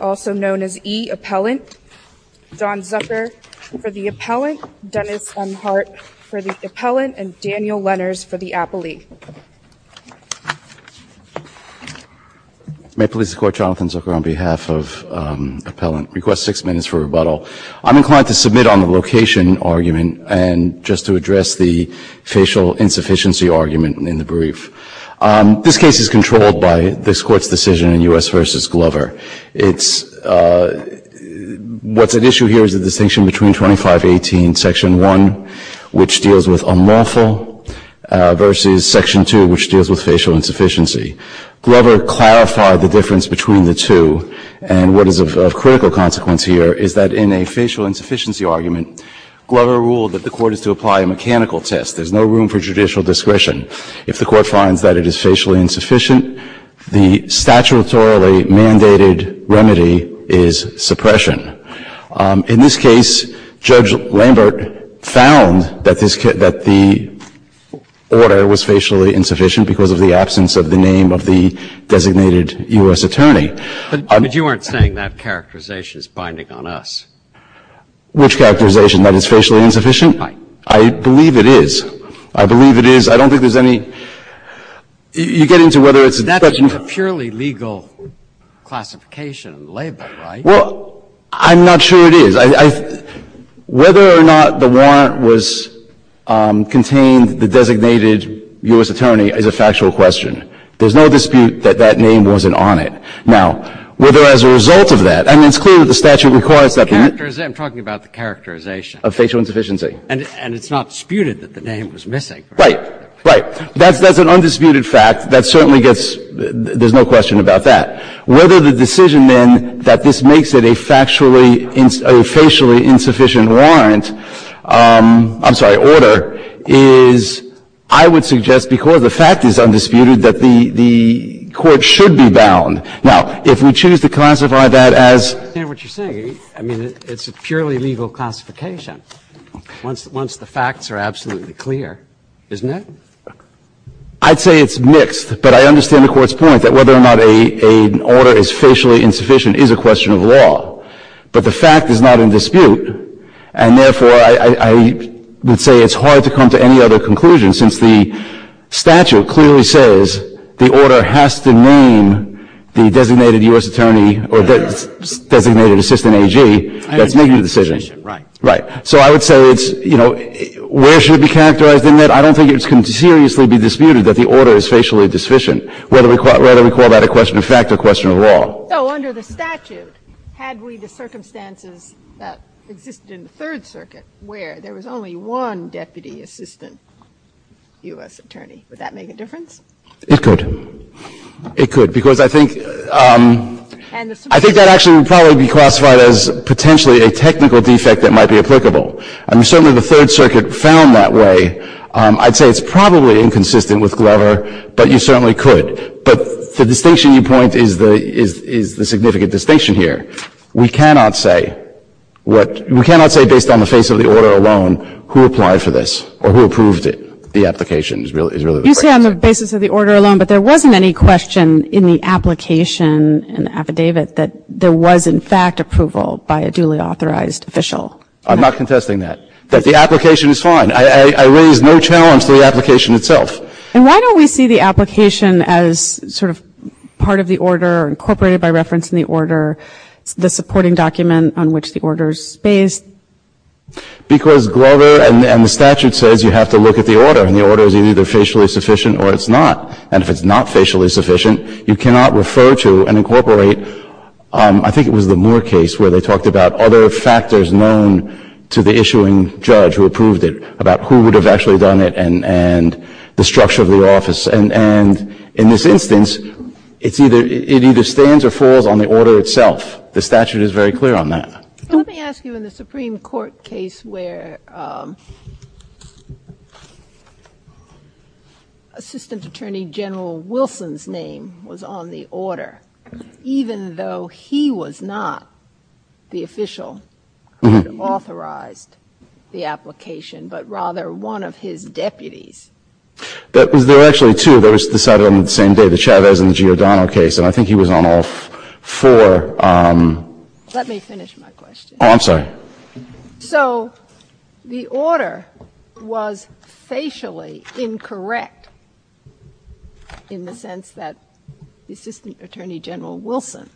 also known as E. Appellant, Don Zucker for the Appellant, Dennis M. Hart for the Appellant, and Daniel Lenners for the Appellee. May it please the Court, Jonathan Zucker on behalf of Appellant, request six minutes for rebuttal. I'm inclined to submit on the location argument and just to address the facial insufficiency argument in the brief. This case is controlled by this Court's decision in U.S. v. Glover. What's at issue here is the distinction between 2518, Section 1, which deals with unlawful, versus Section 2, which deals with facial insufficiency. Glover clarified the difference between the two, and what is of critical consequence here is that in a facial insufficiency argument, Glover ruled that the Court is to apply a mechanical test. There's no room for judicial discretion. If the Court finds that it is facially insufficient, the statutorily mandated remedy is suppression. In this case, Judge Lambert found that the order was facially insufficient because of the absence of the name of the designated U.S. attorney. Breyer, but you weren't saying that characterization is binding on us. Which characterization? That it's facially insufficient? Right. I believe it is. I believe it is. I don't think there's any you get into whether it's. That's a purely legal classification and label, right? Well, I'm not sure it is. Whether or not the warrant was contained, the designated U.S. attorney is a factual question. There's no dispute that that name wasn't on it. Now, whether as a result of that, I mean, it's clear that the statute requires that. I'm talking about the characterization. Of facial insufficiency. And it's not disputed that the name was missing. Right, right. That's an undisputed fact. That certainly gets, there's no question about that. Whether the decision, then, that this makes it a factually, a facially insufficient warrant, I'm sorry, order, is, I would suggest because the fact is undisputed that the court should be bound. Now, if we choose to classify that as. I understand what you're saying. I mean, it's a purely legal classification. Once the facts are absolutely clear, isn't it? I'd say it's mixed. But I understand the Court's point that whether or not an order is facially insufficient is a question of law. But the fact is not in dispute. And therefore, I would say it's hard to come to any other conclusion since the statute clearly says the order has to name the designated U.S. attorney or designated assistant AG that's making the decision. Right. So I would say it's, you know, where should it be characterized in that? I don't think it can seriously be disputed that the order is facially insufficient, whether we call that a question of fact or a question of law. So under the statute, had we the circumstances that existed in the Third Circuit where there was only one deputy assistant U.S. attorney, would that make a difference? It could. It could. Because I think that actually would probably be classified as potentially a technical defect that might be applicable. I mean, certainly the Third Circuit found that way. I'd say it's probably inconsistent with Glover, but you certainly could. But the distinction you point is the significant distinction here. We cannot say what, we cannot say based on the face of the order alone who applied for this or who approved it. The application is really the question. You say on the basis of the order alone, but there wasn't any question in the application and affidavit that there was in fact approval by a duly authorized official. I'm not contesting that. But the application is fine. I raise no challenge to the application itself. And why don't we see the application as sort of part of the order, incorporated by reference in the order, the supporting document on which the order is based? Because Glover and the statute says you have to look at the order, and the order is either facially sufficient or it's not. And if it's not facially sufficient, you cannot refer to and incorporate, I think it was the Moore case where they talked about other factors known to the issuing judge who approved it, about who would have actually done it and the structure of the office. And in this instance, it's either, it either stands or falls on the order itself. The statute is very clear on that. Let me ask you in the Supreme Court case where Assistant Attorney General Wilson's on the order, even though he was not the official who authorized the application, but rather one of his deputies. There were actually two. They were decided on the same day, the Chavez and the Giordano case. And I think he was on all four. Let me finish my question. Oh, I'm sorry. So the order was facially incorrect in the sense that the Assistant Attorney General Wilson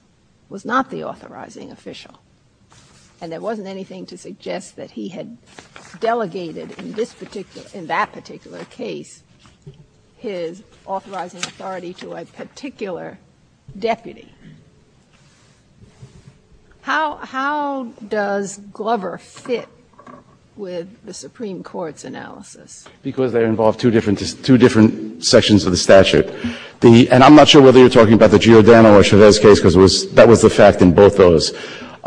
was not the authorizing official, and there wasn't anything to suggest that he had delegated in this particular, in that particular case, his authorizing authority to a particular deputy. How does Glover fit with the Supreme Court's analysis? Because they involve two different sections of the statute. And I'm not sure whether you're talking about the Giordano or Chavez case, because that was the fact in both those.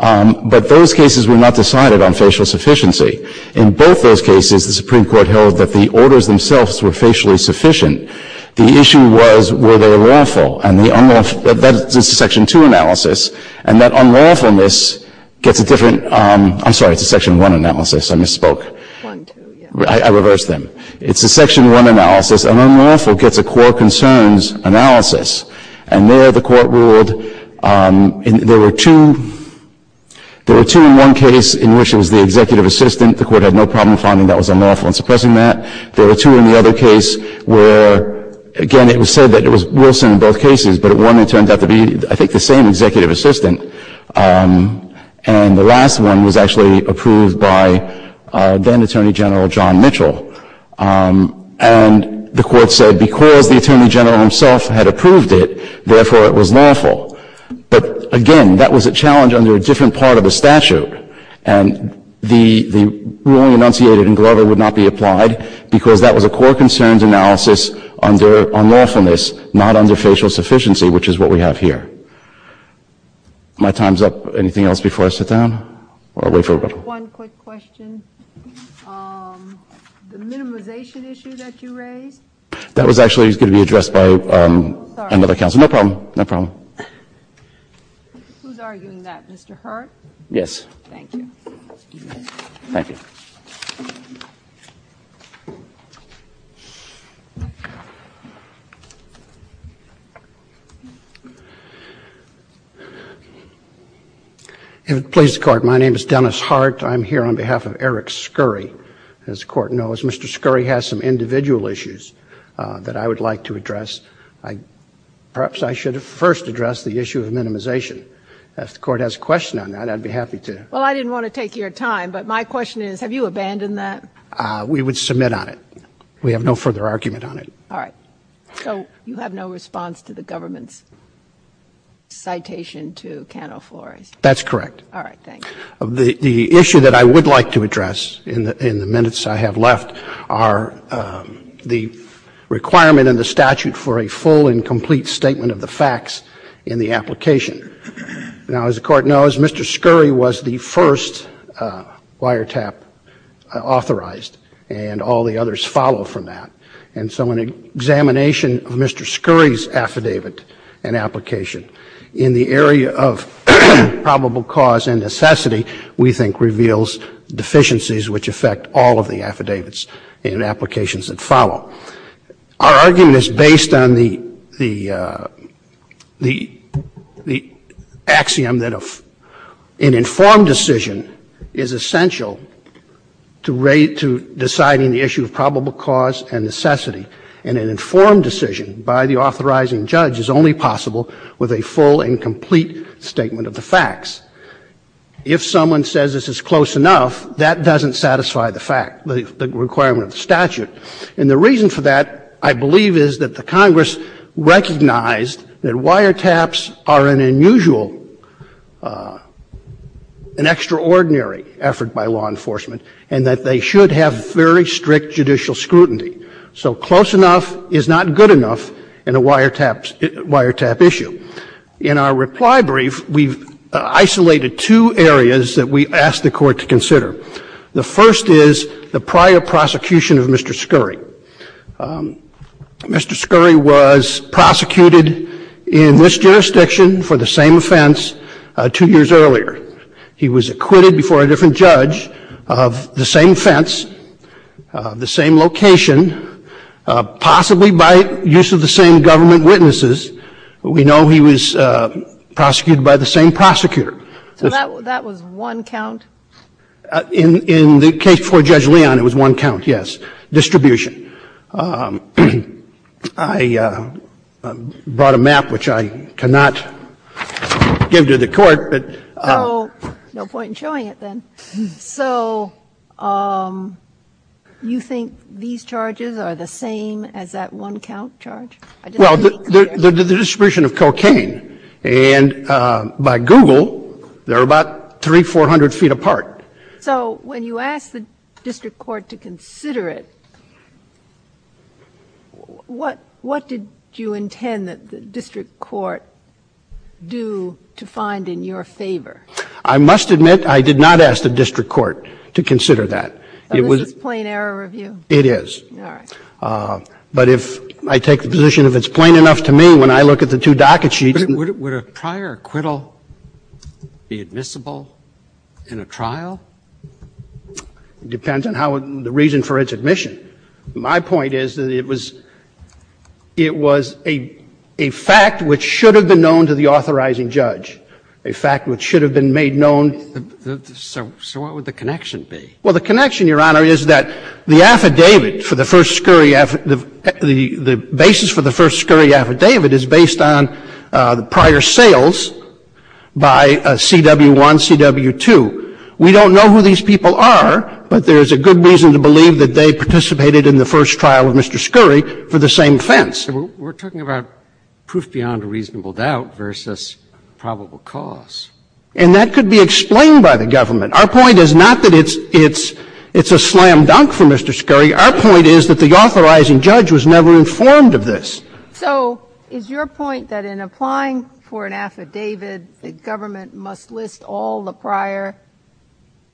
But those cases were not decided on facial sufficiency. In both those cases, the Supreme Court held that the orders themselves were facially sufficient. The issue was, were they lawful? And the unlawful, that's a Section 2 analysis. And that unlawfulness gets a different, I'm sorry, it's a Section 1 analysis. I misspoke. I reversed them. It's a Section 1 analysis. An unlawful gets a core concerns analysis. And there the court ruled, there were two, there were two in one case in which it was the executive assistant. The court had no problem finding that was unlawful and suppressing that. There were two in the other case where, again, it was said that it was Wilson in both cases. But in one it turned out to be, I think, the same executive assistant. And the last one was actually approved by then Attorney General John Mitchell. And the court said because the Attorney General himself had approved it, therefore it was lawful. But, again, that was a challenge under a different part of the statute. And the ruling enunciated in Glover would not be applied. Because that was a core concerns analysis under unlawfulness, not under facial sufficiency, which is what we have here. My time is up. Anything else before I sit down? Or wait for a moment? One quick question. The minimization issue that you raised? That was actually going to be addressed by another counsel. No problem. No problem. Who is arguing that? Mr. Hurte? Yes. Thank you. Thank you. If it pleases the Court, my name is Dennis Hurte. I'm here on behalf of Eric Scurry. As the Court knows, Mr. Scurry has some individual issues that I would like to address. Perhaps I should first address the issue of minimization. If the Court has a question on that, I'd be happy to. Well, I didn't want to take your time, but my question is, have you abandoned that? We would submit on it. We have no further argument on it. All right. So you have no response to the government's citation to Cano Flores? That's correct. All right. Thank you. The issue that I would like to address in the minutes I have left are the requirement in the statute for a full and complete statement of the facts in the application. Now, as the Court knows, Mr. Scurry was the first wiretap authorized, and all the others follow from that. And so an examination of Mr. Scurry's affidavit and application in the area of probable cause and necessity we think reveals deficiencies which affect all of the affidavits and applications that follow. Our argument is based on the axiom that an informed decision is essential to deciding the issue of probable cause and necessity, and an informed decision by the authorizing judge is only possible with a full and complete statement of the facts. If someone says this is close enough, that doesn't satisfy the fact, the requirement of the statute. And the reason for that I believe is that the Congress recognized that wiretaps are an unusual, an extraordinary effort by law enforcement, and that they should have very strict judicial scrutiny. So close enough is not good enough in a wiretap issue. In our reply brief, we've isolated two areas that we asked the Court to consider. The first is the prior prosecution of Mr. Scurry. Mr. Scurry was prosecuted in this jurisdiction for the same offense two years earlier. He was acquitted before a different judge of the same offense, the same location, possibly by use of the same government witnesses. We know he was prosecuted by the same prosecutor. So that was one count? In the case for Judge Leon, it was one count, yes. Distribution. I brought a map, which I cannot give to the Court, but. No point in showing it then. So you think these charges are the same as that one count charge? Well, the distribution of cocaine. And by Google, they're about 300, 400 feet apart. So when you asked the district court to consider it, what did you intend that the district court do to find in your favor? I must admit I did not ask the district court to consider that. So this is plain error review? It is. All right. But if I take the position if it's plain enough to me, when I look at the two docket sheets. Would a prior acquittal be admissible in a trial? It depends on the reason for its admission. My point is that it was a fact which should have been known to the authorizing judge, a fact which should have been made known. So what would the connection be? Well, the connection, Your Honor, is that the affidavit for the first scurry affidavit, the basis for the first scurry affidavit is based on the prior sales by CW1, CW2. We don't know who these people are, but there is a good reason to believe that they participated in the first trial of Mr. Scurry for the same offense. We're talking about proof beyond a reasonable doubt versus probable cause. And that could be explained by the government. Our point is not that it's a slam dunk for Mr. Scurry. Our point is that the authorizing judge was never informed of this. So is your point that in applying for an affidavit, the government must list all the prior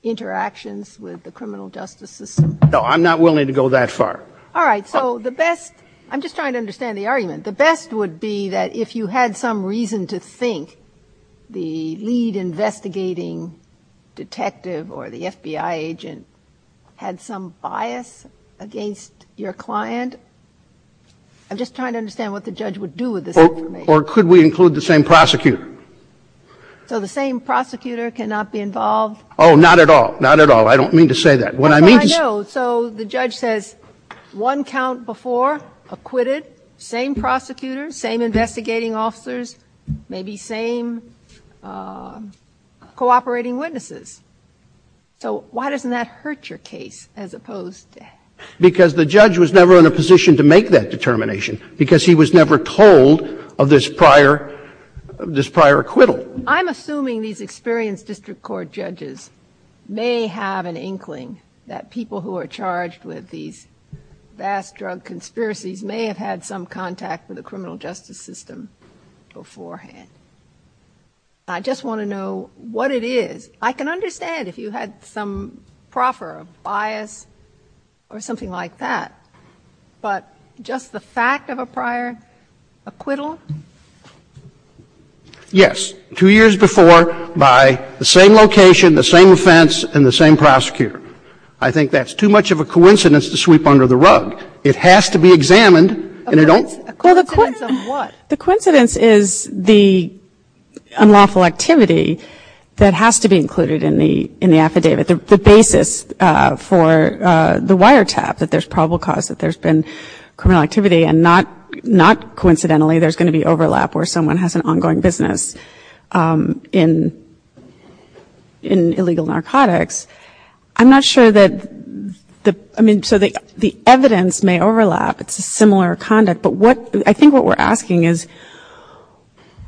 interactions with the criminal justice system? No, I'm not willing to go that far. All right. So the best – I'm just trying to understand the argument. The best would be that if you had some reason to think the lead investigating detective or the FBI agent had some bias against your client. I'm just trying to understand what the judge would do with this information. Or could we include the same prosecutor? So the same prosecutor cannot be involved? Oh, not at all. Not at all. I don't mean to say that. What I mean is – I know. So the judge says one count before acquitted, same prosecutor, same investigating officers, maybe same cooperating witnesses. So why doesn't that hurt your case as opposed to – Because the judge was never in a position to make that determination because he was never told of this prior acquittal. I'm assuming these experienced district court judges may have an inkling that people who are charged with these vast drug conspiracies may have had some contact with the criminal justice system beforehand. I just want to know what it is. I can understand if you had some proffer of bias or something like that. But just the fact of a prior acquittal? Yes. Two years before by the same location, the same offense, and the same prosecutor. I think that's too much of a coincidence to sweep under the rug. It has to be examined. A coincidence of what? The coincidence is the unlawful activity that has to be included in the affidavit. The basis for the wiretap that there's probable cause that there's been criminal activity and not coincidentally there's going to be overlap where someone has an ongoing business in illegal narcotics. I'm not sure that the evidence may overlap. It's a similar conduct. But I think what we're asking is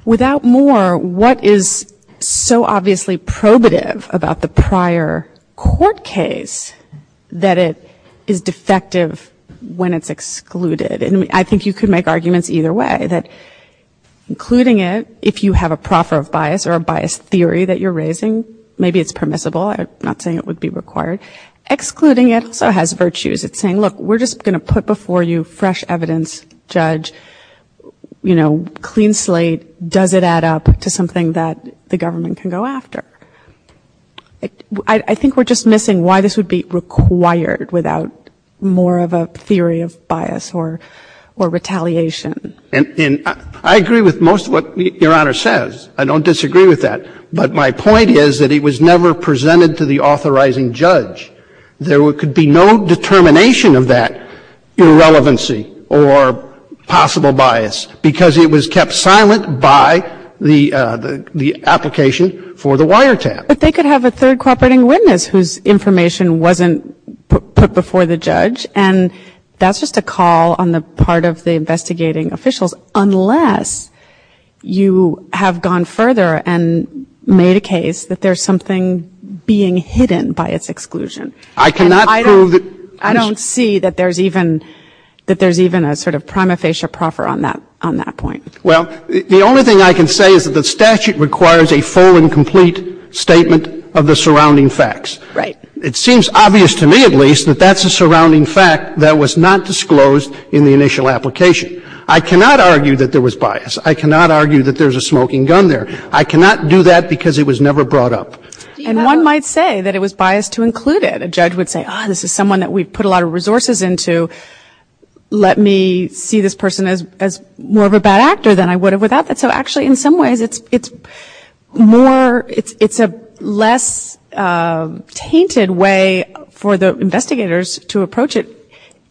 without more, what is so obviously probative about the prior court case that it is defective when it's excluded? And I think you could make arguments either way, that including it, if you have a proffer of bias or a bias theory that you're raising, maybe it's permissible. I'm not saying it would be required. Excluding it also has virtues. It's saying, look, we're just going to put before you fresh evidence, judge, you know, clean slate. Does it add up to something that the government can go after? I think we're just missing why this would be required without more of a theory of bias or retaliation. And I agree with most of what Your Honor says. I don't disagree with that. But my point is that it was never presented to the authorizing judge. There could be no determination of that irrelevancy or possible bias because it was kept silent by the application for the wiretap. But they could have a third cooperating witness whose information wasn't put before the judge, and that's just a call on the part of the investigating officials, unless you have gone further and made a case that there's something being hidden by its exclusion. And I don't see that there's even a sort of prima facie proffer on that point. Well, the only thing I can say is that the statute requires a full and complete statement of the surrounding facts. Right. It seems obvious to me at least that that's a surrounding fact that was not disclosed in the initial application. I cannot argue that there was bias. I cannot argue that there's a smoking gun there. I cannot do that because it was never brought up. And one might say that it was biased to include it. A judge would say, ah, this is someone that we've put a lot of resources into. Let me see this person as more of a bad actor than I would have without that. So actually in some ways it's more, it's a less tainted way for the investigators to approach it,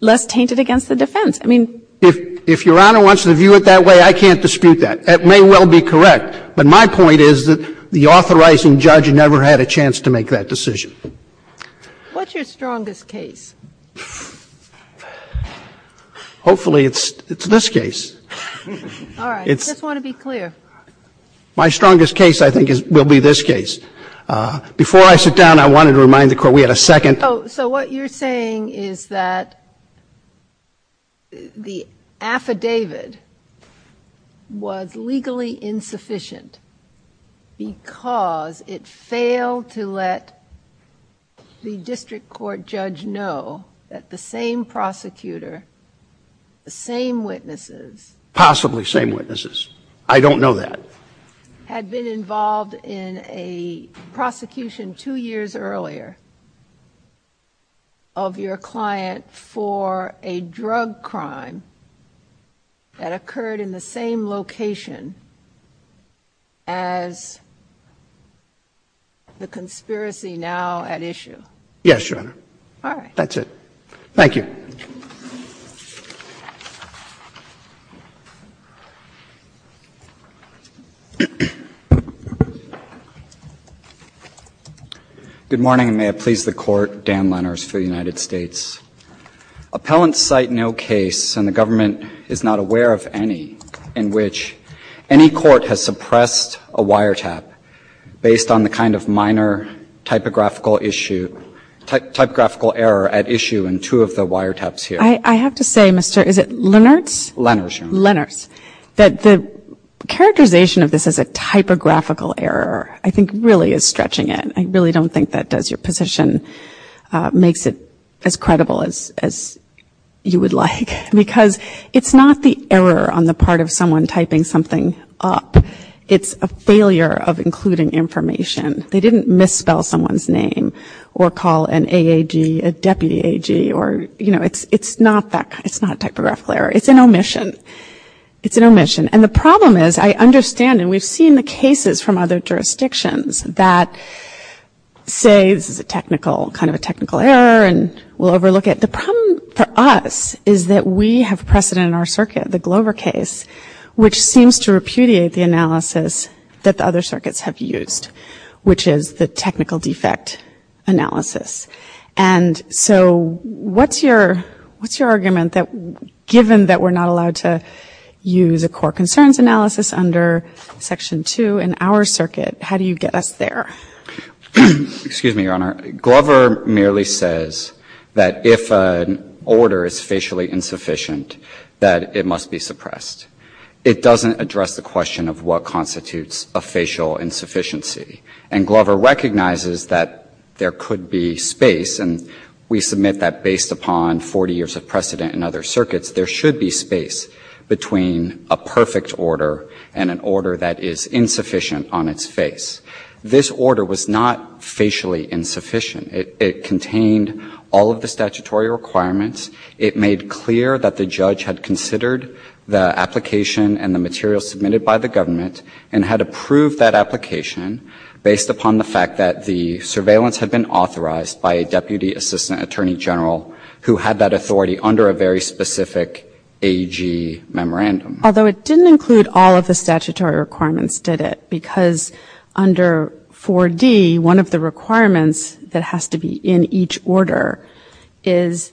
less tainted against the defense. I mean. If Your Honor wants to view it that way, I can't dispute that. It may well be correct, but my point is that the authorizing judge never had a chance to make that decision. What's your strongest case? Hopefully it's this case. All right. I just want to be clear. My strongest case, I think, will be this case. Before I sit down, I wanted to remind the Court we had a second. Oh, so what you're saying is that the affidavit was legally insufficient because it failed to let the district court judge know that the same prosecutor, the same witnesses. Possibly same witnesses. I don't know that. Had been involved in a prosecution two years earlier of your client for a drug crime that occurred in the same location as the conspiracy now at issue. Yes, Your Honor. All right. That's it. Thank you. Good morning, and may it please the Court. Dan Lenners for the United States. Appellants cite no case, and the government is not aware of any, in which any court has suppressed a wiretap based on the kind of minor typographical issue, typographical error at issue in two of the wiretaps here. I have to say, Mr. Is it Lennerts? Lennerts, Your Honor. Lennerts, that the characterization of this as a typographical error, I think, really is stretching it. I really don't think that does your position, makes it as credible as you would like, because it's not the error on the part of someone typing something up. It's a failure of including information. They didn't misspell someone's name or call an AAG a deputy AG, or, you know, it's not that, it's not a typographical error. It's an omission. It's an omission. And the problem is, I understand, and we've seen the cases from other jurisdictions that say this is a technical, kind of a technical error, and we'll overlook it. The problem for us is that we have precedent in our circuit, the Glover case, which seems to repudiate the analysis that the other circuits have used, which is the technical defect analysis. And so what's your argument that, given that we're not allowed to use a core concerns analysis under Section 2 in our circuit, how do you get us there? Excuse me, Your Honor. Glover merely says that if an order is facially insufficient, that it must be suppressed. It doesn't address the question of what constitutes a facial insufficiency. And Glover recognizes that there could be space, and we submit that based upon 40 years of precedent in other circuits, there should be space between a perfect order and an order that is insufficient on its face. This order was not facially insufficient. It contained all of the statutory requirements. It made clear that the judge had considered the application and the material submitted by the government and had approved that application based upon the fact that the surveillance had been authorized by a deputy assistant attorney general who had that authority under a very specific AG memorandum. Although it didn't include all of the statutory requirements, did it? Because under 4D, one of the requirements that has to be in each order is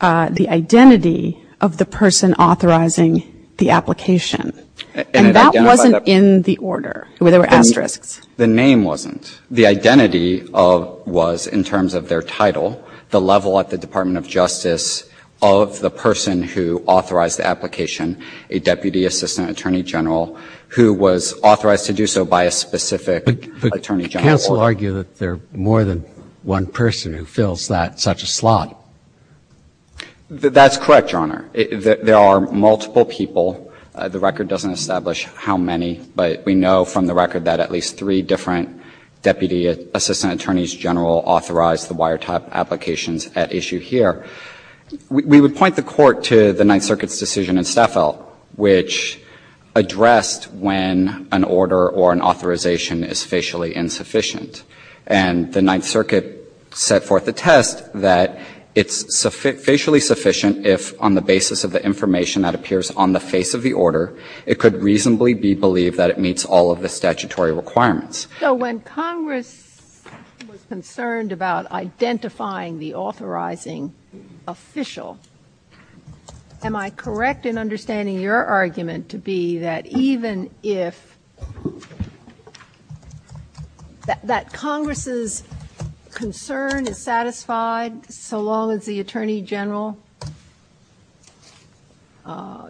the identity of the person authorizing the application. And that wasn't in the order where there were asterisks. The name wasn't. The identity was in terms of their title, the level at the Department of Justice of the person who authorized the application, a deputy assistant attorney general who was authorized to do so by a specific attorney general. But counsel argue that there are more than one person who fills that, such a slot. That's correct. Thank you, Your Honor. There are multiple people. The record doesn't establish how many, but we know from the record that at least three different deputy assistant attorneys general authorized the wiretap applications at issue here. We would point the Court to the Ninth Circuit's decision in Staffel, which addressed when an order or an authorization is facially insufficient. And the Ninth Circuit set forth a test that it's facially sufficient if, on the basis of the information that appears on the face of the order, it could reasonably be believed that it meets all of the statutory requirements. So when Congress was concerned about identifying the authorizing official, am I correct in understanding your argument to be that even if that Congress' concern is satisfied so long as the attorney general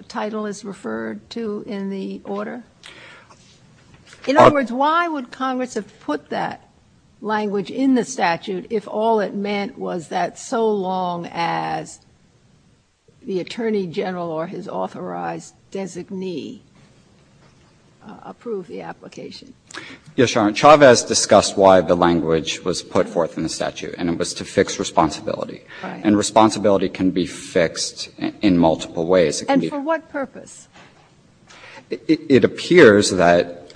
title is referred to in the order? In other words, why would Congress have put that language in the statute if all it meant was that so long as the attorney general or his authorized designee approved the application? Yes, Your Honor. Chavez discussed why the language was put forth in the statute, and it was to fix responsibility. Right. And responsibility can be fixed in multiple ways. And for what purpose? It appears that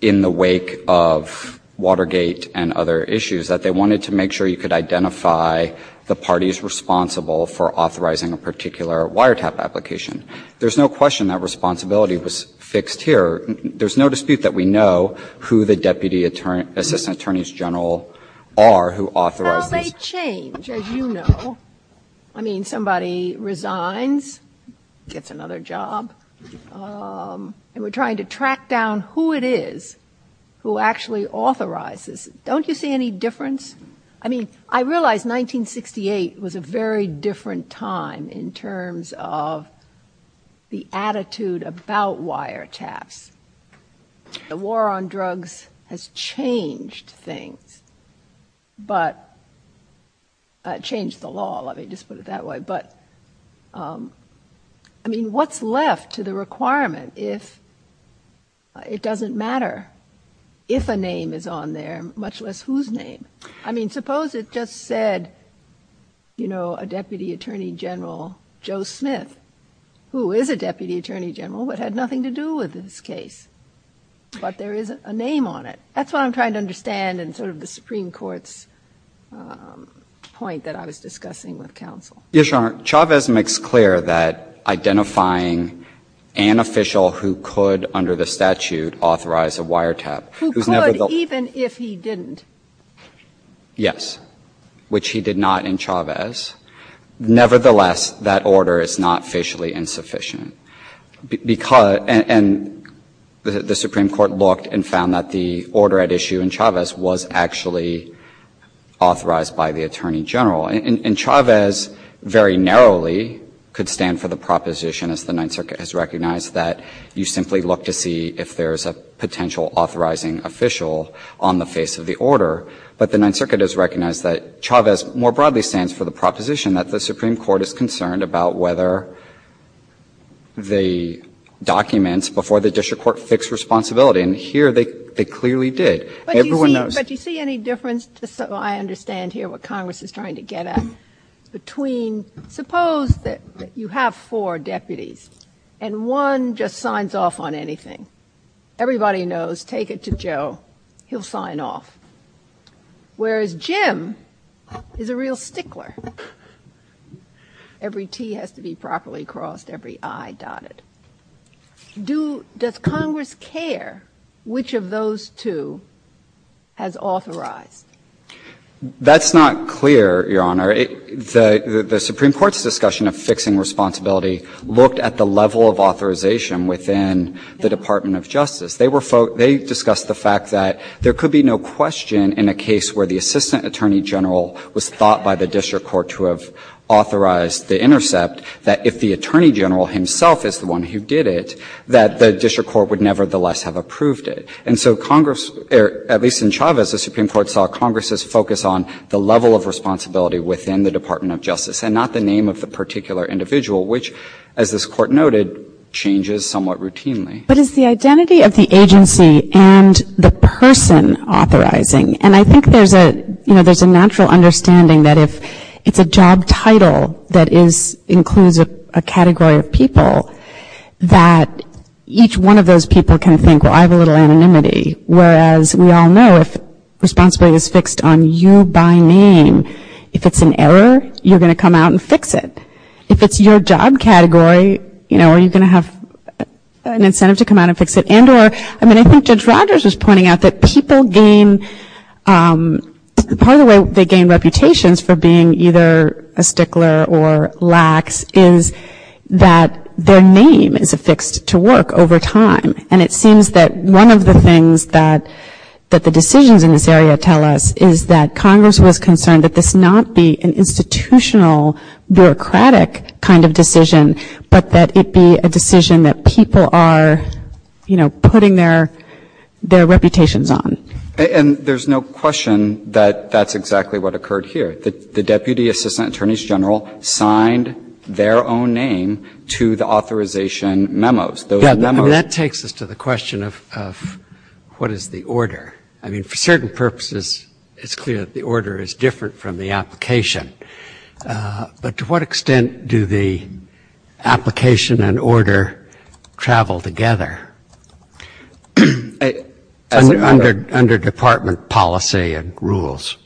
in the wake of Watergate and other issues, that they wanted to make sure you could identify the parties responsible for authorizing a particular wiretap application. There's no question that responsibility was fixed here. There's no dispute that we know who the deputy assistant attorneys general are who authorized these. How they change, as you know. I mean, somebody resigns, gets another job, and we're trying to track down who it is who actually authorizes. Don't you see any difference? I mean, I realize 1968 was a very different time in terms of the attitude about wiretaps. The war on drugs has changed things, but changed the law. Let me just put it that way. But, I mean, what's left to the requirement if it doesn't matter if a name is on there, much less whose name? I mean, suppose it just said, you know, a deputy attorney general, Joe Smith, who is a deputy attorney general, but had nothing to do with this case. But there is a name on it. That's what I'm trying to understand in sort of the Supreme Court's point that I was discussing with counsel. Yes, Your Honor. Chavez makes clear that identifying an official who could, under the statute, authorize a wiretap. Who could even if he didn't? Yes. Which he did not in Chavez. Nevertheless, that order is not facially insufficient. Because the Supreme Court looked and found that the order at issue in Chavez was actually authorized by the attorney general. And Chavez very narrowly could stand for the proposition, as the Ninth Circuit has recognized, that you simply look to see if there is a potential authorizing official on the face of the order. But the Ninth Circuit has recognized that Chavez more broadly stands for the proposition that the Supreme Court is concerned about whether the documents before the district court fix responsibility. And here they clearly did. Everyone knows. But do you see any difference? I understand here what Congress is trying to get at. Suppose that you have four deputies and one just signs off on anything. Everybody knows, take it to Joe, he'll sign off. Whereas Jim is a real stickler. Every T has to be properly crossed, every I dotted. Does Congress care which of those two has authorized? That's not clear, Your Honor. The Supreme Court's discussion of fixing responsibility looked at the level of authorization within the Department of Justice. They discussed the fact that there could be no question in a case where the assistant attorney general was thought by the district court to have authorized the intercept, that if the attorney general himself is the one who did it, that the district court would nevertheless have approved it. And so Congress, at least in Chavez, the Supreme Court saw Congress's focus on the responsibility within the Department of Justice and not the name of the particular individual, which, as this Court noted, changes somewhat routinely. But it's the identity of the agency and the person authorizing. And I think there's a natural understanding that if it's a job title that includes a category of people, that each one of those people can think, well, I have a little anonymity. Whereas we all know if responsibility is fixed on you by name, if it's an error, you're going to come out and fix it. If it's your job category, you know, are you going to have an incentive to come out and fix it? And or, I mean, I think Judge Rogers was pointing out that people gain, part of the way they gain reputations for being either a stickler or lax is that their name is affixed to work over time. And it seems that one of the things that the decisions in this area tell us is that Congress was concerned that this not be an institutional, bureaucratic kind of decision, but that it be a decision that people are, you know, putting their reputations on. And there's no question that that's exactly what occurred here. The Deputy Assistant Attorneys General signed their own name to the authorization memos. Those memos. Breyer. I mean, that takes us to the question of what is the order. I mean, for certain purposes, it's clear that the order is different from the application. But to what extent do the application and order travel together under department policy and rules?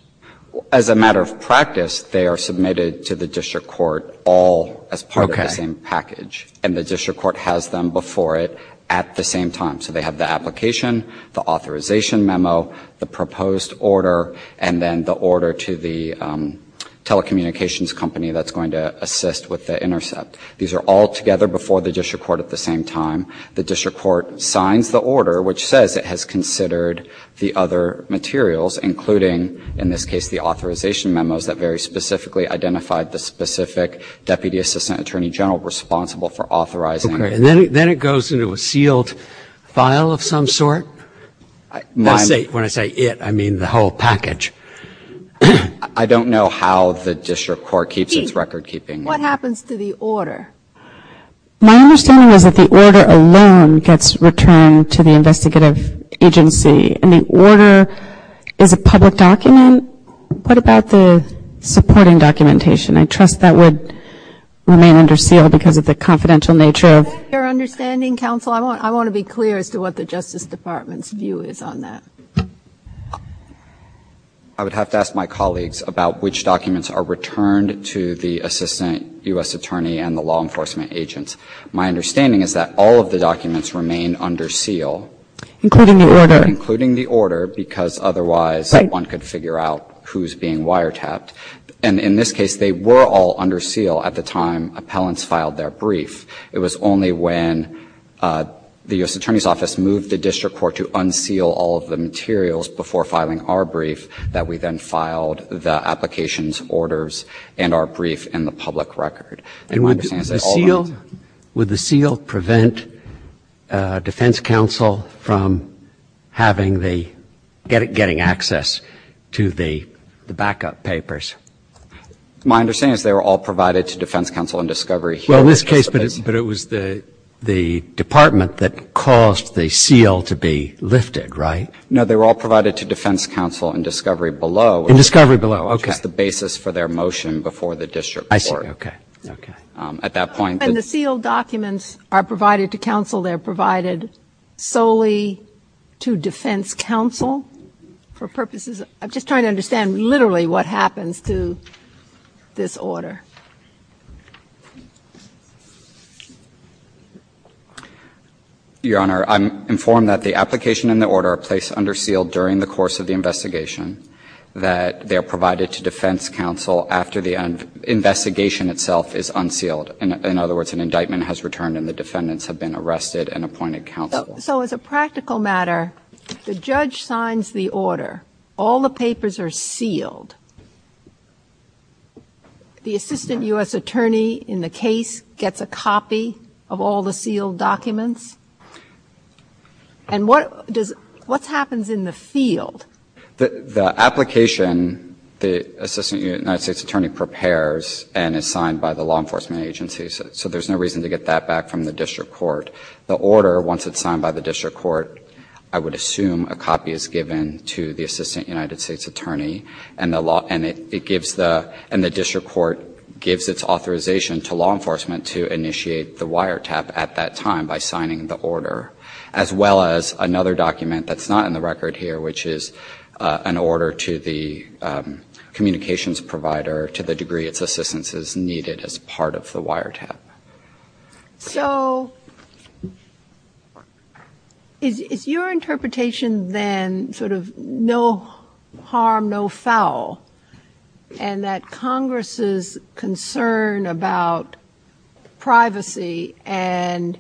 As a matter of practice, they are submitted to the district court all as part of the same package. Okay. And the district court has them before it at the same time. So they have the application, the authorization memo, the proposed order, and then the order to the telecommunications company that's going to assist with the intercept. These are all together before the district court at the same time. The district court signs the order, which says it has considered the other materials, including, in this case, the authorization memos that very specifically identified the specific Deputy Assistant Attorney General responsible for authorizing it. Okay. And then it goes into a sealed file of some sort? When I say it, I mean the whole package. I don't know how the district court keeps its record keeping. Pete, what happens to the order? My understanding is that the order alone gets returned to the investigative agency. And the order is a public document. What about the supporting documentation? I trust that would remain under seal because of the confidential nature of Your understanding, counsel, I want to be clear as to what the Justice Department's view is on that. I would have to ask my colleagues about which documents are returned to the Assistant U.S. Attorney and the law enforcement agents. My understanding is that all of the documents remain under seal. Including the order. Because otherwise one could figure out who is being wiretapped. And in this case, they were all under seal at the time appellants filed their brief. It was only when the U.S. Attorney's Office moved the district court to unseal all of the materials before filing our brief that we then filed the applications orders and our brief in the public record. And would the seal prevent defense counsel from having the, getting access to the backup papers? My understanding is they were all provided to defense counsel in discovery here. Well, in this case, but it was the department that caused the seal to be lifted, right? No, they were all provided to defense counsel in discovery below. In discovery below. Okay. Just the basis for their motion before the district court. I see. Okay. Okay. At that point. When the sealed documents are provided to counsel, they're provided solely to defense counsel for purposes of, I'm just trying to understand literally what happens to this order. Your Honor, I'm informed that the application and the order are placed under seal during the course of the investigation. That they're provided to defense counsel after the investigation itself is unsealed. In other words, an indictment has returned and the defendants have been arrested and appointed counsel. So as a practical matter, the judge signs the order. All the papers are sealed. The assistant U.S. attorney in the case gets a copy of all the sealed documents. And what does, what happens in the field? The application, the assistant United States attorney prepares and is signed by the law enforcement agency. So there's no reason to get that back from the district court. The order, once it's signed by the district court, I would assume a copy is given to the assistant United States attorney. And the law, and it gives the, and the district court gives its authorization to law enforcement to initiate the wiretap at that time by signing the order. As well as another document that's not in the record here, which is an order to the communications provider to the degree its assistance is needed as part of the wiretap. So is your interpretation then sort of no harm, no foul? And that Congress's concern about privacy and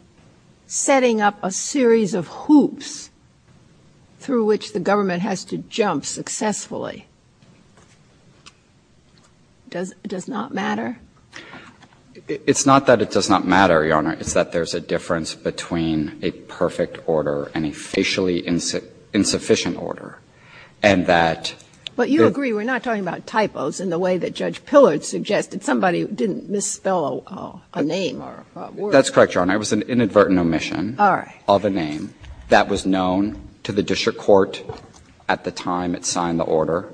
setting up a series of hoops through which the government has to jump successfully does, does not matter? It's not that it does not matter, Your Honor. It's that there's a difference between a perfect order and a facially insufficient order. And that the ---- But you agree we're not talking about typos in the way that Judge Pillard suggested. Somebody didn't misspell a name or a word. That's correct, Your Honor. It was an inadvertent omission of a name that was known to the district court at the time it signed the order.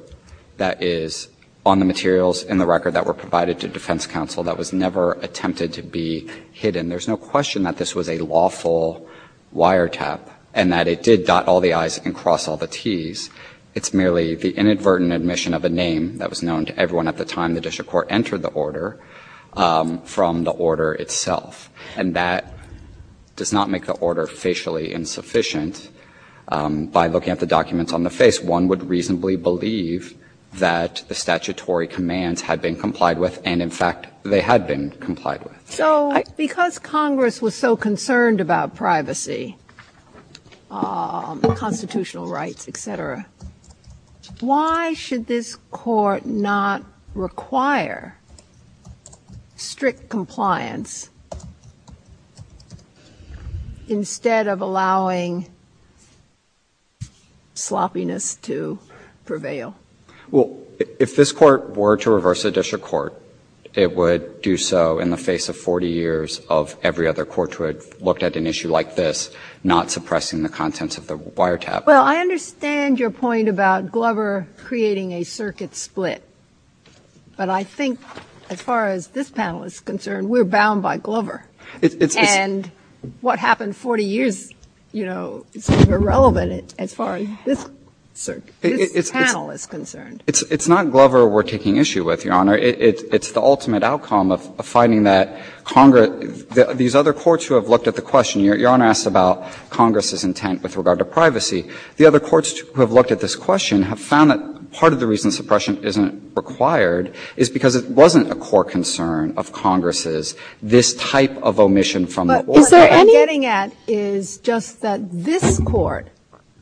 That is on the materials in the record that were provided to defense counsel that was never attempted to be hidden. There's no question that this was a lawful wiretap and that it did dot all the i's and cross all the t's. It's merely the inadvertent omission of a name that was known to everyone at the time the district court entered the order from the order itself. And that does not make the order facially insufficient by looking at the documents on the face. One would reasonably believe that the statutory commands had been complied with and, in fact, they had been complied with. So because Congress was so concerned about privacy, constitutional rights, et cetera, why should this court not require strict compliance instead of allowing sloppiness to prevail? Well, if this court were to reverse the district court, it would do so in the face of 40 years of every other court who had looked at an issue like this not suppressing the contents of the wiretap. Well, I understand your point about Glover creating a circuit split, but I think as far as this panel is concerned, we're bound by Glover. And what happened 40 years, you know, is irrelevant as far as this panel is concerned. It's not Glover we're taking issue with, Your Honor. It's the ultimate outcome of finding that these other courts who have looked at the question, Your Honor asked about Congress's intent with regard to privacy, the other courts who have looked at this question have found that part of the reason suppression isn't required is because it wasn't a core concern of Congress's, this type of omission from the order. What I'm getting at is just that this court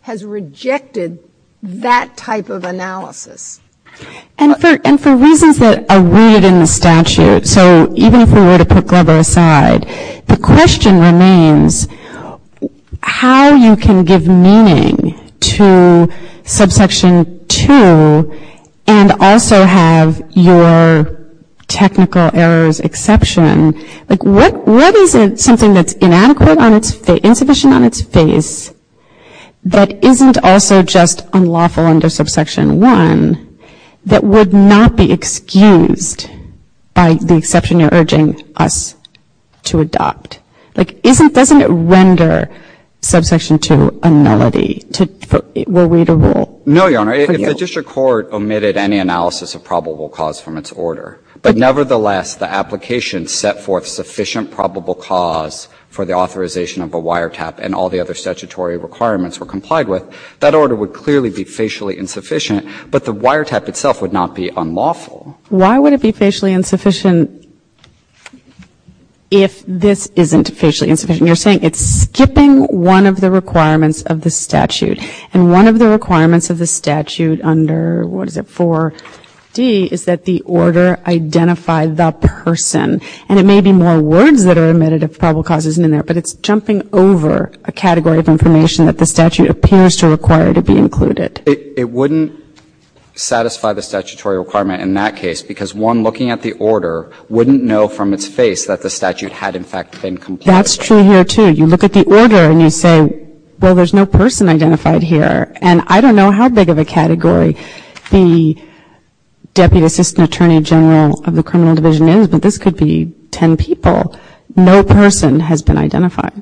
has rejected that type of analysis. And for reasons that are rooted in the statute, so even if we were to put Glover aside, the question remains how you can give meaning to subsection 2 and also have your technical errors exception. What isn't something that's inadequate on its face, insufficient on its face, that isn't also just unlawful under subsection 1 that would not be excused by the exception you're urging us to adopt? Like, isn't, doesn't it render subsection 2 a nullity? Were we to rule? No, Your Honor. If the district court omitted any analysis of probable cause from its order, but nevertheless the application set forth sufficient probable cause for the authorization of a wiretap and all the other statutory requirements were complied with, that order would clearly be facially insufficient, but the wiretap itself would not be unlawful. Why would it be facially insufficient if this isn't facially insufficient? You're saying it's skipping one of the requirements of the statute, and one of the requirements of the statute is to identify the person, and it may be more words that are omitted if probable cause isn't in there, but it's jumping over a category of information that the statute appears to require to be included. It wouldn't satisfy the statutory requirement in that case, because one looking at the order wouldn't know from its face that the statute had in fact been complied with. That's true here, too. You look at the order and you say, well, there's no person identified here, and I don't know who the deputy assistant attorney general of the criminal division is, but this could be ten people. No person has been identified.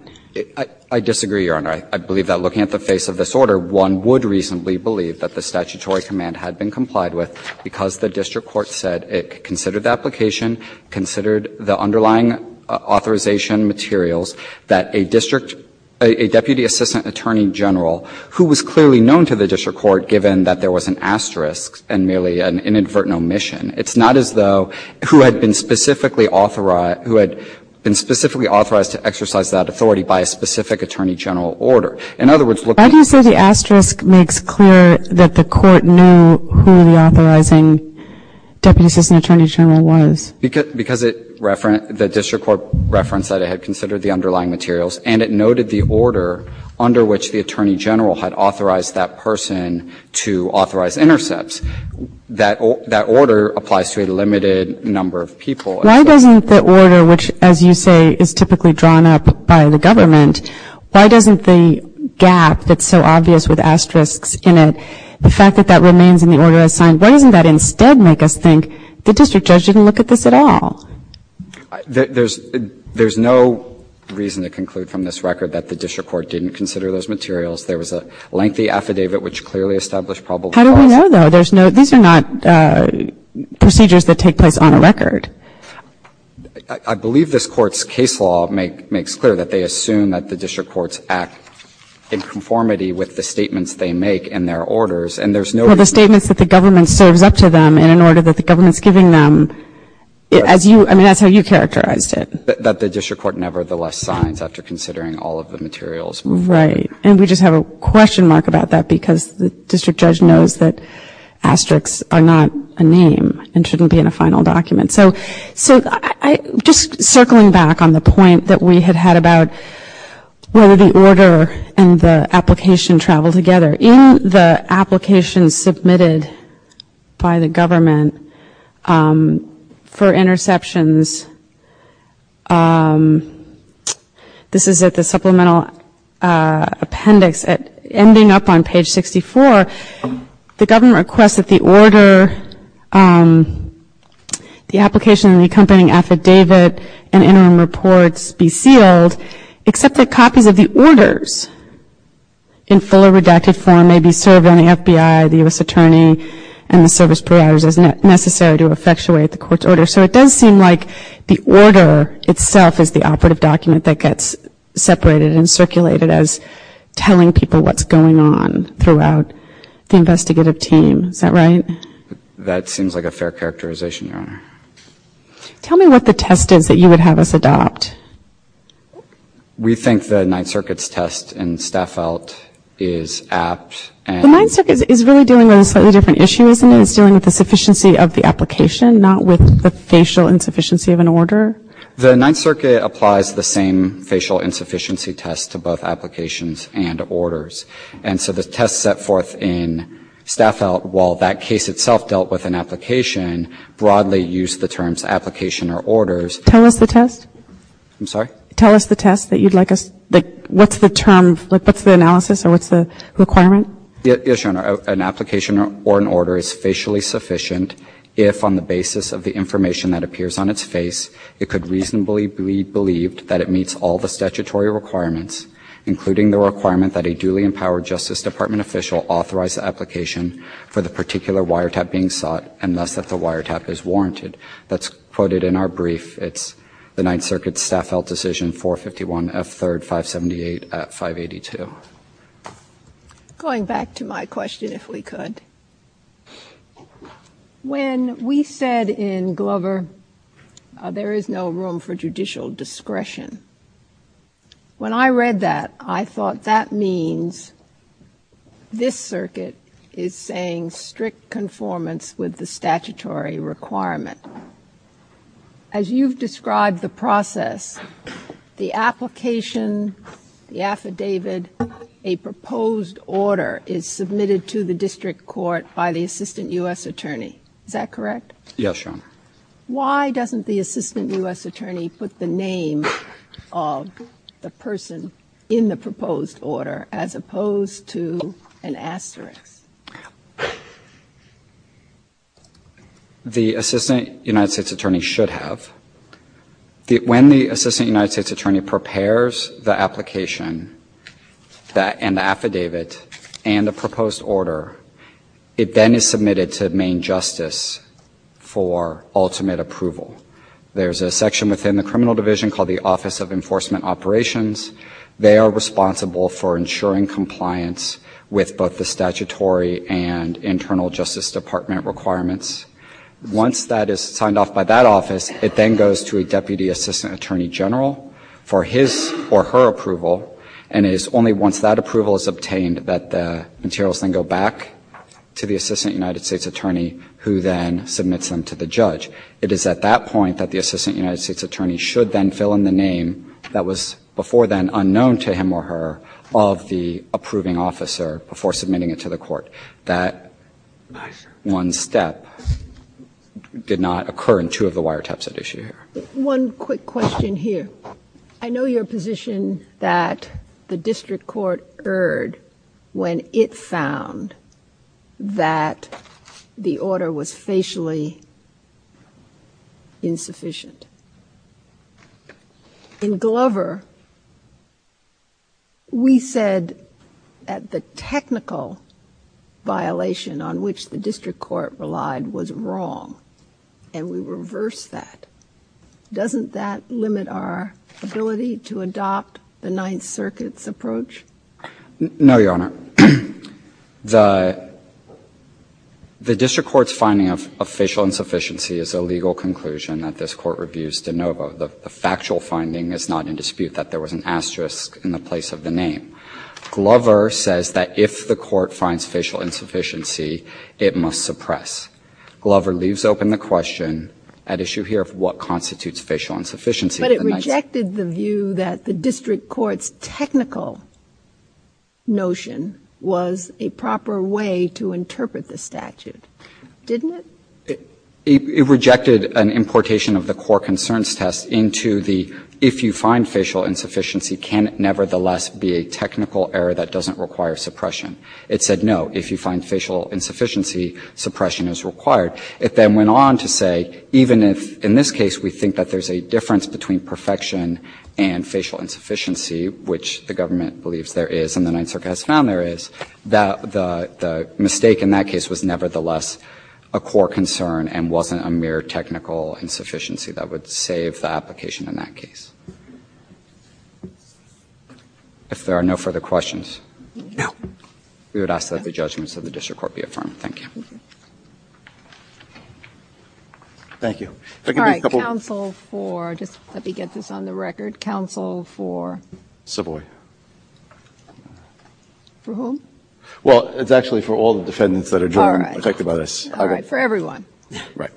I disagree, Your Honor. I believe that looking at the face of this order, one would reasonably believe that the statutory command had been complied with because the district court said it considered the application, considered the underlying authorization materials that a district, a deputy assistant attorney general who was clearly known to the district court, given that there was an asterisk and merely an inadvertent omission. It's not as though who had been specifically authorized, who had been specifically authorized to exercise that authority by a specific attorney general order. In other words, looking at the face of this order, one would reasonably believe that the statutory command had been complied with because the district court said it considered the application, considered the underlying authorization materials that a district, a deputy assistant attorney general who was clearly known to the district court, given that there was an asterisk and merely an inadvertent omission. And it noted the order under which the attorney general had authorized that person to authorize intercepts. That order applies to a limited number of people. Kagan. Why doesn't the order, which, as you say, is typically drawn up by the government, why doesn't the gap that's so obvious with asterisks in it, the fact that that remains in the order as signed, why doesn't that instead make us think the district judge didn't look at this at all? There's no reason to conclude from this record that the district court didn't consider those materials. There was a lengthy affidavit which clearly established probable cause. How do we know, though? There's no, these are not procedures that take place on a record. I believe this Court's case law makes clear that they assume that the district courts act in conformity with the statements they make in their orders, and there's no reason. Well, the statements that the government serves up to them in an order that the government's giving them, as you, I mean, that's how you characterized it. That the district court nevertheless signs after considering all of the materials before it. Right. And we just have a question mark about that because the district judge knows that asterisks are not a name and shouldn't be in a final document. So, just circling back on the point that we had had about whether the order and the application travel together, in the application submitted by the government for interceptions, this is at the supplemental appendix ending up on page 64. The government requests that the order, the application and the accompanying affidavit and interim reports be sealed, except that copies of the orders in full or redacted form may be served on the FBI, the U.S. Attorney, and the service providers as necessary to effectuate the court's order. So, it does seem like the order itself is the operative document that gets separated and circulated as telling people what's going on throughout the investigative team. Is that right? That seems like a fair characterization, Your Honor. Tell me what the test is that you would have us adopt. We think the Ninth Circuit's test in Staffelt is apt. The Ninth Circuit is really dealing with a slightly different issue, isn't it? It's dealing with the sufficiency of the application, not with the facial insufficiency of an order. The Ninth Circuit applies the same facial insufficiency test to both applications and orders. And so, the test set forth in Staffelt, while that case itself dealt with an application, broadly used the terms application or orders. Tell us the test. I'm sorry? Tell us the test that you'd like us, like, what's the term, like, what's the Yes, Your Honor. An application or an order is facially sufficient if, on the basis of the information that appears on its face, it could reasonably be believed that it meets all the statutory requirements, including the requirement that a duly empowered Justice Department official authorize the application for the particular wiretap being sought, unless that the wiretap is warranted. That's quoted in our brief. It's the Ninth Circuit's Staffelt decision, 451 F. 3rd, 578, 582. Going back to my question, if we could. When we said in Glover, there is no room for judicial discretion, when I read that, I thought that means this circuit is saying strict conformance with the statutory requirement. As you've described the process, the application, the affidavit, a proposed order is submitted to the district court by the assistant U.S. attorney. Is that correct? Yes, Your Honor. Why doesn't the assistant U.S. attorney put the name of the person in the proposed order, as opposed to an asterisk? The assistant U.S. attorney should have. When the assistant U.S. attorney prepares the application and the affidavit and the proposed order, it then is submitted to Maine Justice for ultimate approval. There's a section within the criminal division called the Office of Enforcement Operations. They are responsible for ensuring compliance with both the statutory and internal justice department requirements. Once that is signed off by that office, it then goes to a deputy assistant attorney general for his or her approval, and it is only once that approval is obtained that the materials then go back to the assistant U.S. attorney, who then submits them to the judge. It is at that point that the assistant U.S. attorney should then fill in the name that was before then unknown to him or her of the approving officer before submitting it to the court. That one step did not occur in two of the wiretaps at issue here. One quick question here. I know your position that the district court erred when it found that the order was facially insufficient. In Glover, we said that the technical violation on which the district court relied was wrong, and we reversed that. Doesn't that limit our ability to adopt the Ninth Circuit's approach? No, Your Honor. The district court's finding of facial insufficiency is a legal conclusion that this Court reviews de novo. The factual finding is not in dispute that there was an asterisk in the place of the name. Glover says that if the court finds facial insufficiency, it must suppress. Glover leaves open the question at issue here of what constitutes facial insufficiency in the Ninth Circuit. But it rejected the view that the district court's technical notion was a proper way to interpret the statute, didn't it? It rejected an importation of the core concerns test into the if you find facial insufficiency, can it nevertheless be a technical error that doesn't require suppression? It said no. If you find facial insufficiency, suppression is required. It then went on to say even if in this case we think that there's a difference between perfection and facial insufficiency, which the government believes there is and the Ninth Circuit has found there is, that the mistake in that case was nevertheless a core concern and wasn't a mere technical insufficiency that would save the application in that case. If there are no further questions, we would ask that the judgments of the district court be affirmed. Thank you. Thank you. All right. Counsel for, just let me get this on the record. Counsel for? Savoy. For whom? Well, it's actually for all the defendants that are being affected by this. All right. For everyone. Right.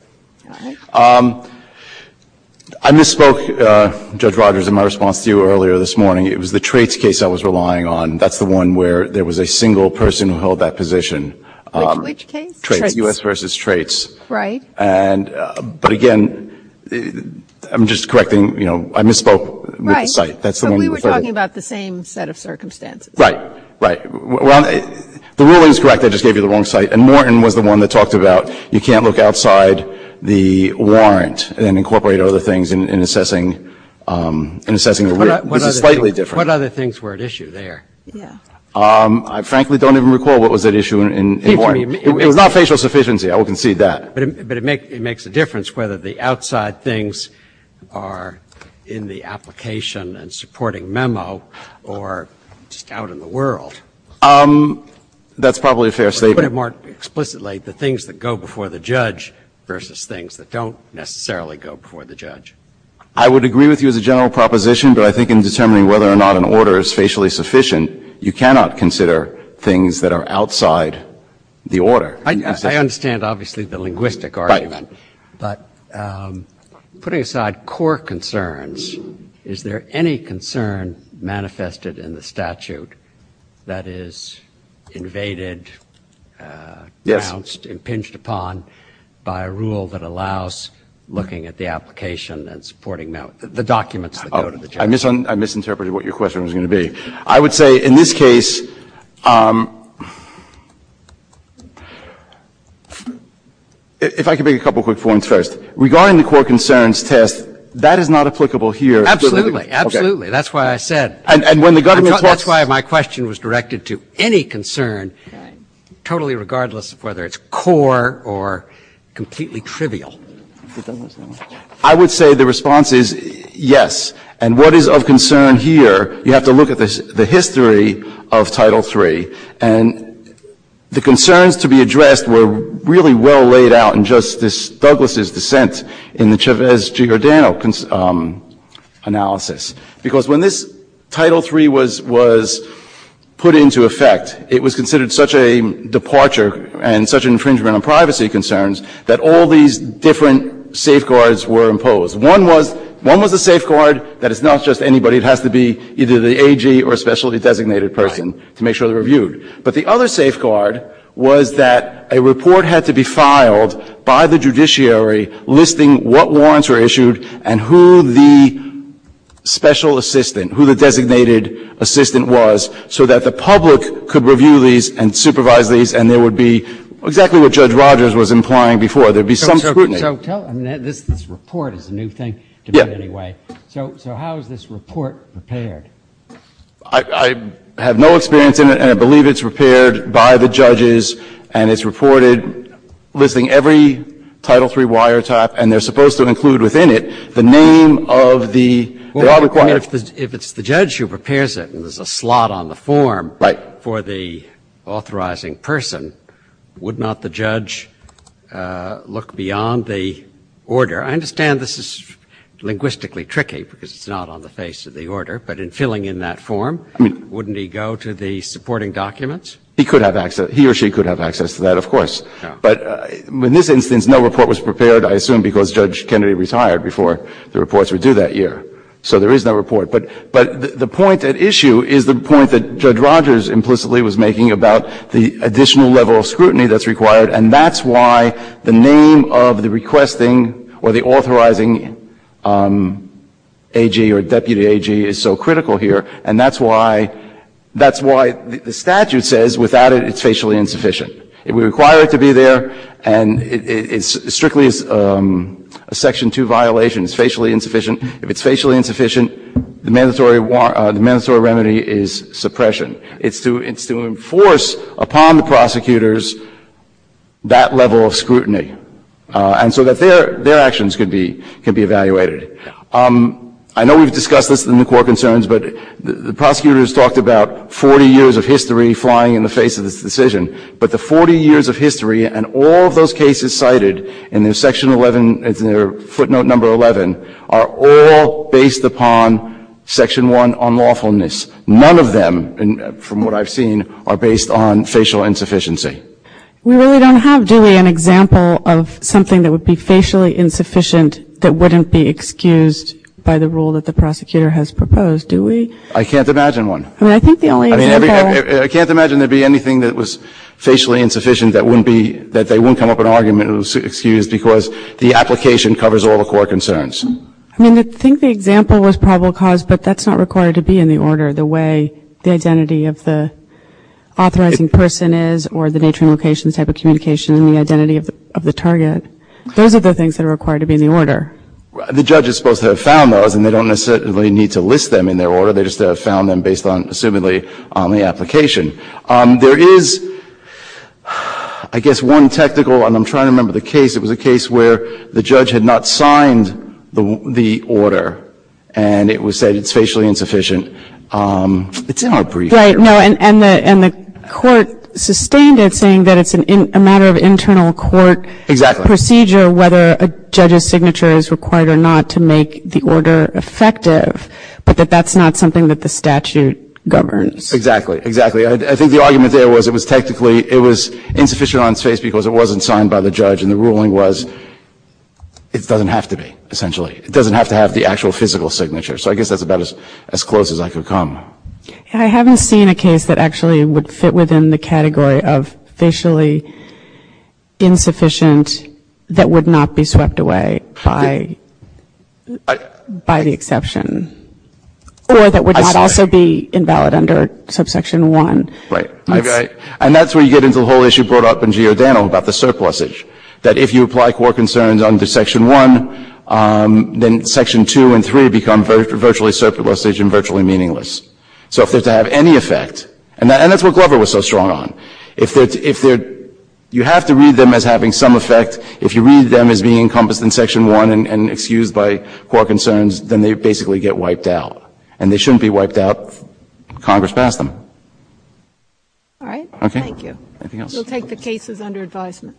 I misspoke, Judge Rogers, in my response to you earlier this morning. It was the traits case I was relying on. That's the one where there was a single person who held that position. Which case? Traits. U.S. v. Traits. Right. But again, I'm just correcting, you know, I misspoke with the site. Right. But we were talking about the same set of circumstances. Right. Right. The ruling is correct. I just gave you the wrong site. And Morton was the one that talked about you can't look outside the warrant and incorporate other things in assessing the rule. This is slightly different. What other things were at issue there? Yeah. I frankly don't even recall what was at issue in Morton. It was not facial sufficiency. I will concede that. But it makes a difference whether the outside things are in the application and supporting memo or just out in the world. That's probably a fair statement. But to put it more explicitly, the things that go before the judge versus things that don't necessarily go before the judge. I would agree with you as a general proposition, but I think in determining whether or not an order is facially sufficient, you cannot consider things that are outside the order. I understand, obviously, the linguistic argument. Right. But putting aside core concerns, is there any concern manifested in the statute that is invaded, denounced, impinged upon by a rule that allows looking at the application and supporting memo, the documents that go to the judge? I misinterpreted what your question was going to be. I would say in this case, if I could make a couple quick points first. Regarding the core concerns test, that is not applicable here. Absolutely. Absolutely. That's why I said. That's why my question was directed to any concern, totally regardless of whether it's core or completely trivial. I would say the response is yes. And what is of concern here, you have to look at the history of Title III, and the concerns to be addressed were really well laid out in Justice Douglas' dissent in the Chavez-Giordano analysis, because when this Title III was put into effect, it was considered such a departure and such an infringement on privacy concerns that all these different safeguards were imposed. One was a safeguard that it's not just anybody. It has to be either the AG or a specialty-designated person to make sure they're reviewed. But the other safeguard was that a report had to be filed by the judiciary listing what warrants were issued and who the special assistant, who the designated assistant was, so that the public could review these and supervise these, and there would be exactly what Judge Rogers was implying before. So there would be some scrutiny. Breyer. So this report is a new thing to me anyway. So how is this report prepared? I have no experience in it, and I believe it's prepared by the judges, and it's reported listing every Title III wiretap, and they're supposed to include within it the name of the required. Well, if it's the judge who prepares it and there's a slot on the form for the authorizing person, would not the judge look beyond the order? I understand this is linguistically tricky because it's not on the face of the order, but in filling in that form, wouldn't he go to the supporting documents? He could have access. He or she could have access to that, of course. But in this instance, no report was prepared, I assume, because Judge Kennedy retired before the reports were due that year. So there is no report. But the point at issue is the point that Judge Rogers implicitly was making about the additional level of scrutiny that's required, and that's why the name of the requesting or the authorizing AG or deputy AG is so critical here. And that's why the statute says without it, it's facially insufficient. It would require it to be there, and it strictly is a Section 2 violation. It's facially insufficient. If it's facially insufficient, the mandatory remedy is suppression. It's to enforce upon the prosecutors that level of scrutiny, and so that their actions could be evaluated. I know we've discussed this in the court concerns, but the prosecutors talked about 40 years of history flying in the face of this decision. But the 40 years of history and all of those cases cited in their section 11, in their footnote number 11, are all based upon Section 1 unlawfulness. None of them, from what I've seen, are based on facial insufficiency. We really don't have, do we, an example of something that would be facially insufficient that wouldn't be excused by the rule that the prosecutor has proposed, do we? I can't imagine one. I mean, I think the only example. I mean, I can't imagine there would be anything that was facially insufficient that wouldn't be, that they wouldn't come up with an argument that was excused because the application covers all the court concerns. I mean, I think the example was probable cause, but that's not required to be in the order, the way the identity of the authorizing person is or the nature and location type of communication and the identity of the target. Those are the things that are required to be in the order. The judge is supposed to have found those, and they don't necessarily need to list them in their order. They just have to have found them based on, assumedly, on the application. There is, I guess, one technical, and I'm trying to remember the case. It was a case where the judge had not signed the order, and it was said it's facially insufficient. It's in our brief. Right. No, and the court sustained it, saying that it's a matter of internal court procedure whether a judge's signature is required or not to make the order effective, but that that's not something that the statute governs. Exactly. Exactly. I think the argument there was it was technically, it was insufficient on its face because it wasn't signed by the judge, and the ruling was it doesn't have to be, essentially. It doesn't have to have the actual physical signature. So I guess that's about as close as I could come. I haven't seen a case that actually would fit within the category of facially insufficient that would not be swept away by the exception or that would not also be invalid under Subsection 1. Right. And that's where you get into the whole issue brought up in Giordano about the surplusage, that if you apply core concerns under Section 1, then Section 2 and 3 become virtually surplusage and virtually meaningless. So if they're to have any effect, and that's what Glover was so strong on, if they're to, you have to read them as having some effect. If you read them as being encompassed in Section 1 and excused by core concerns, then they basically get wiped out. And they shouldn't be wiped out. Congress passed them. All right. Thank you. We'll take the cases under advisement.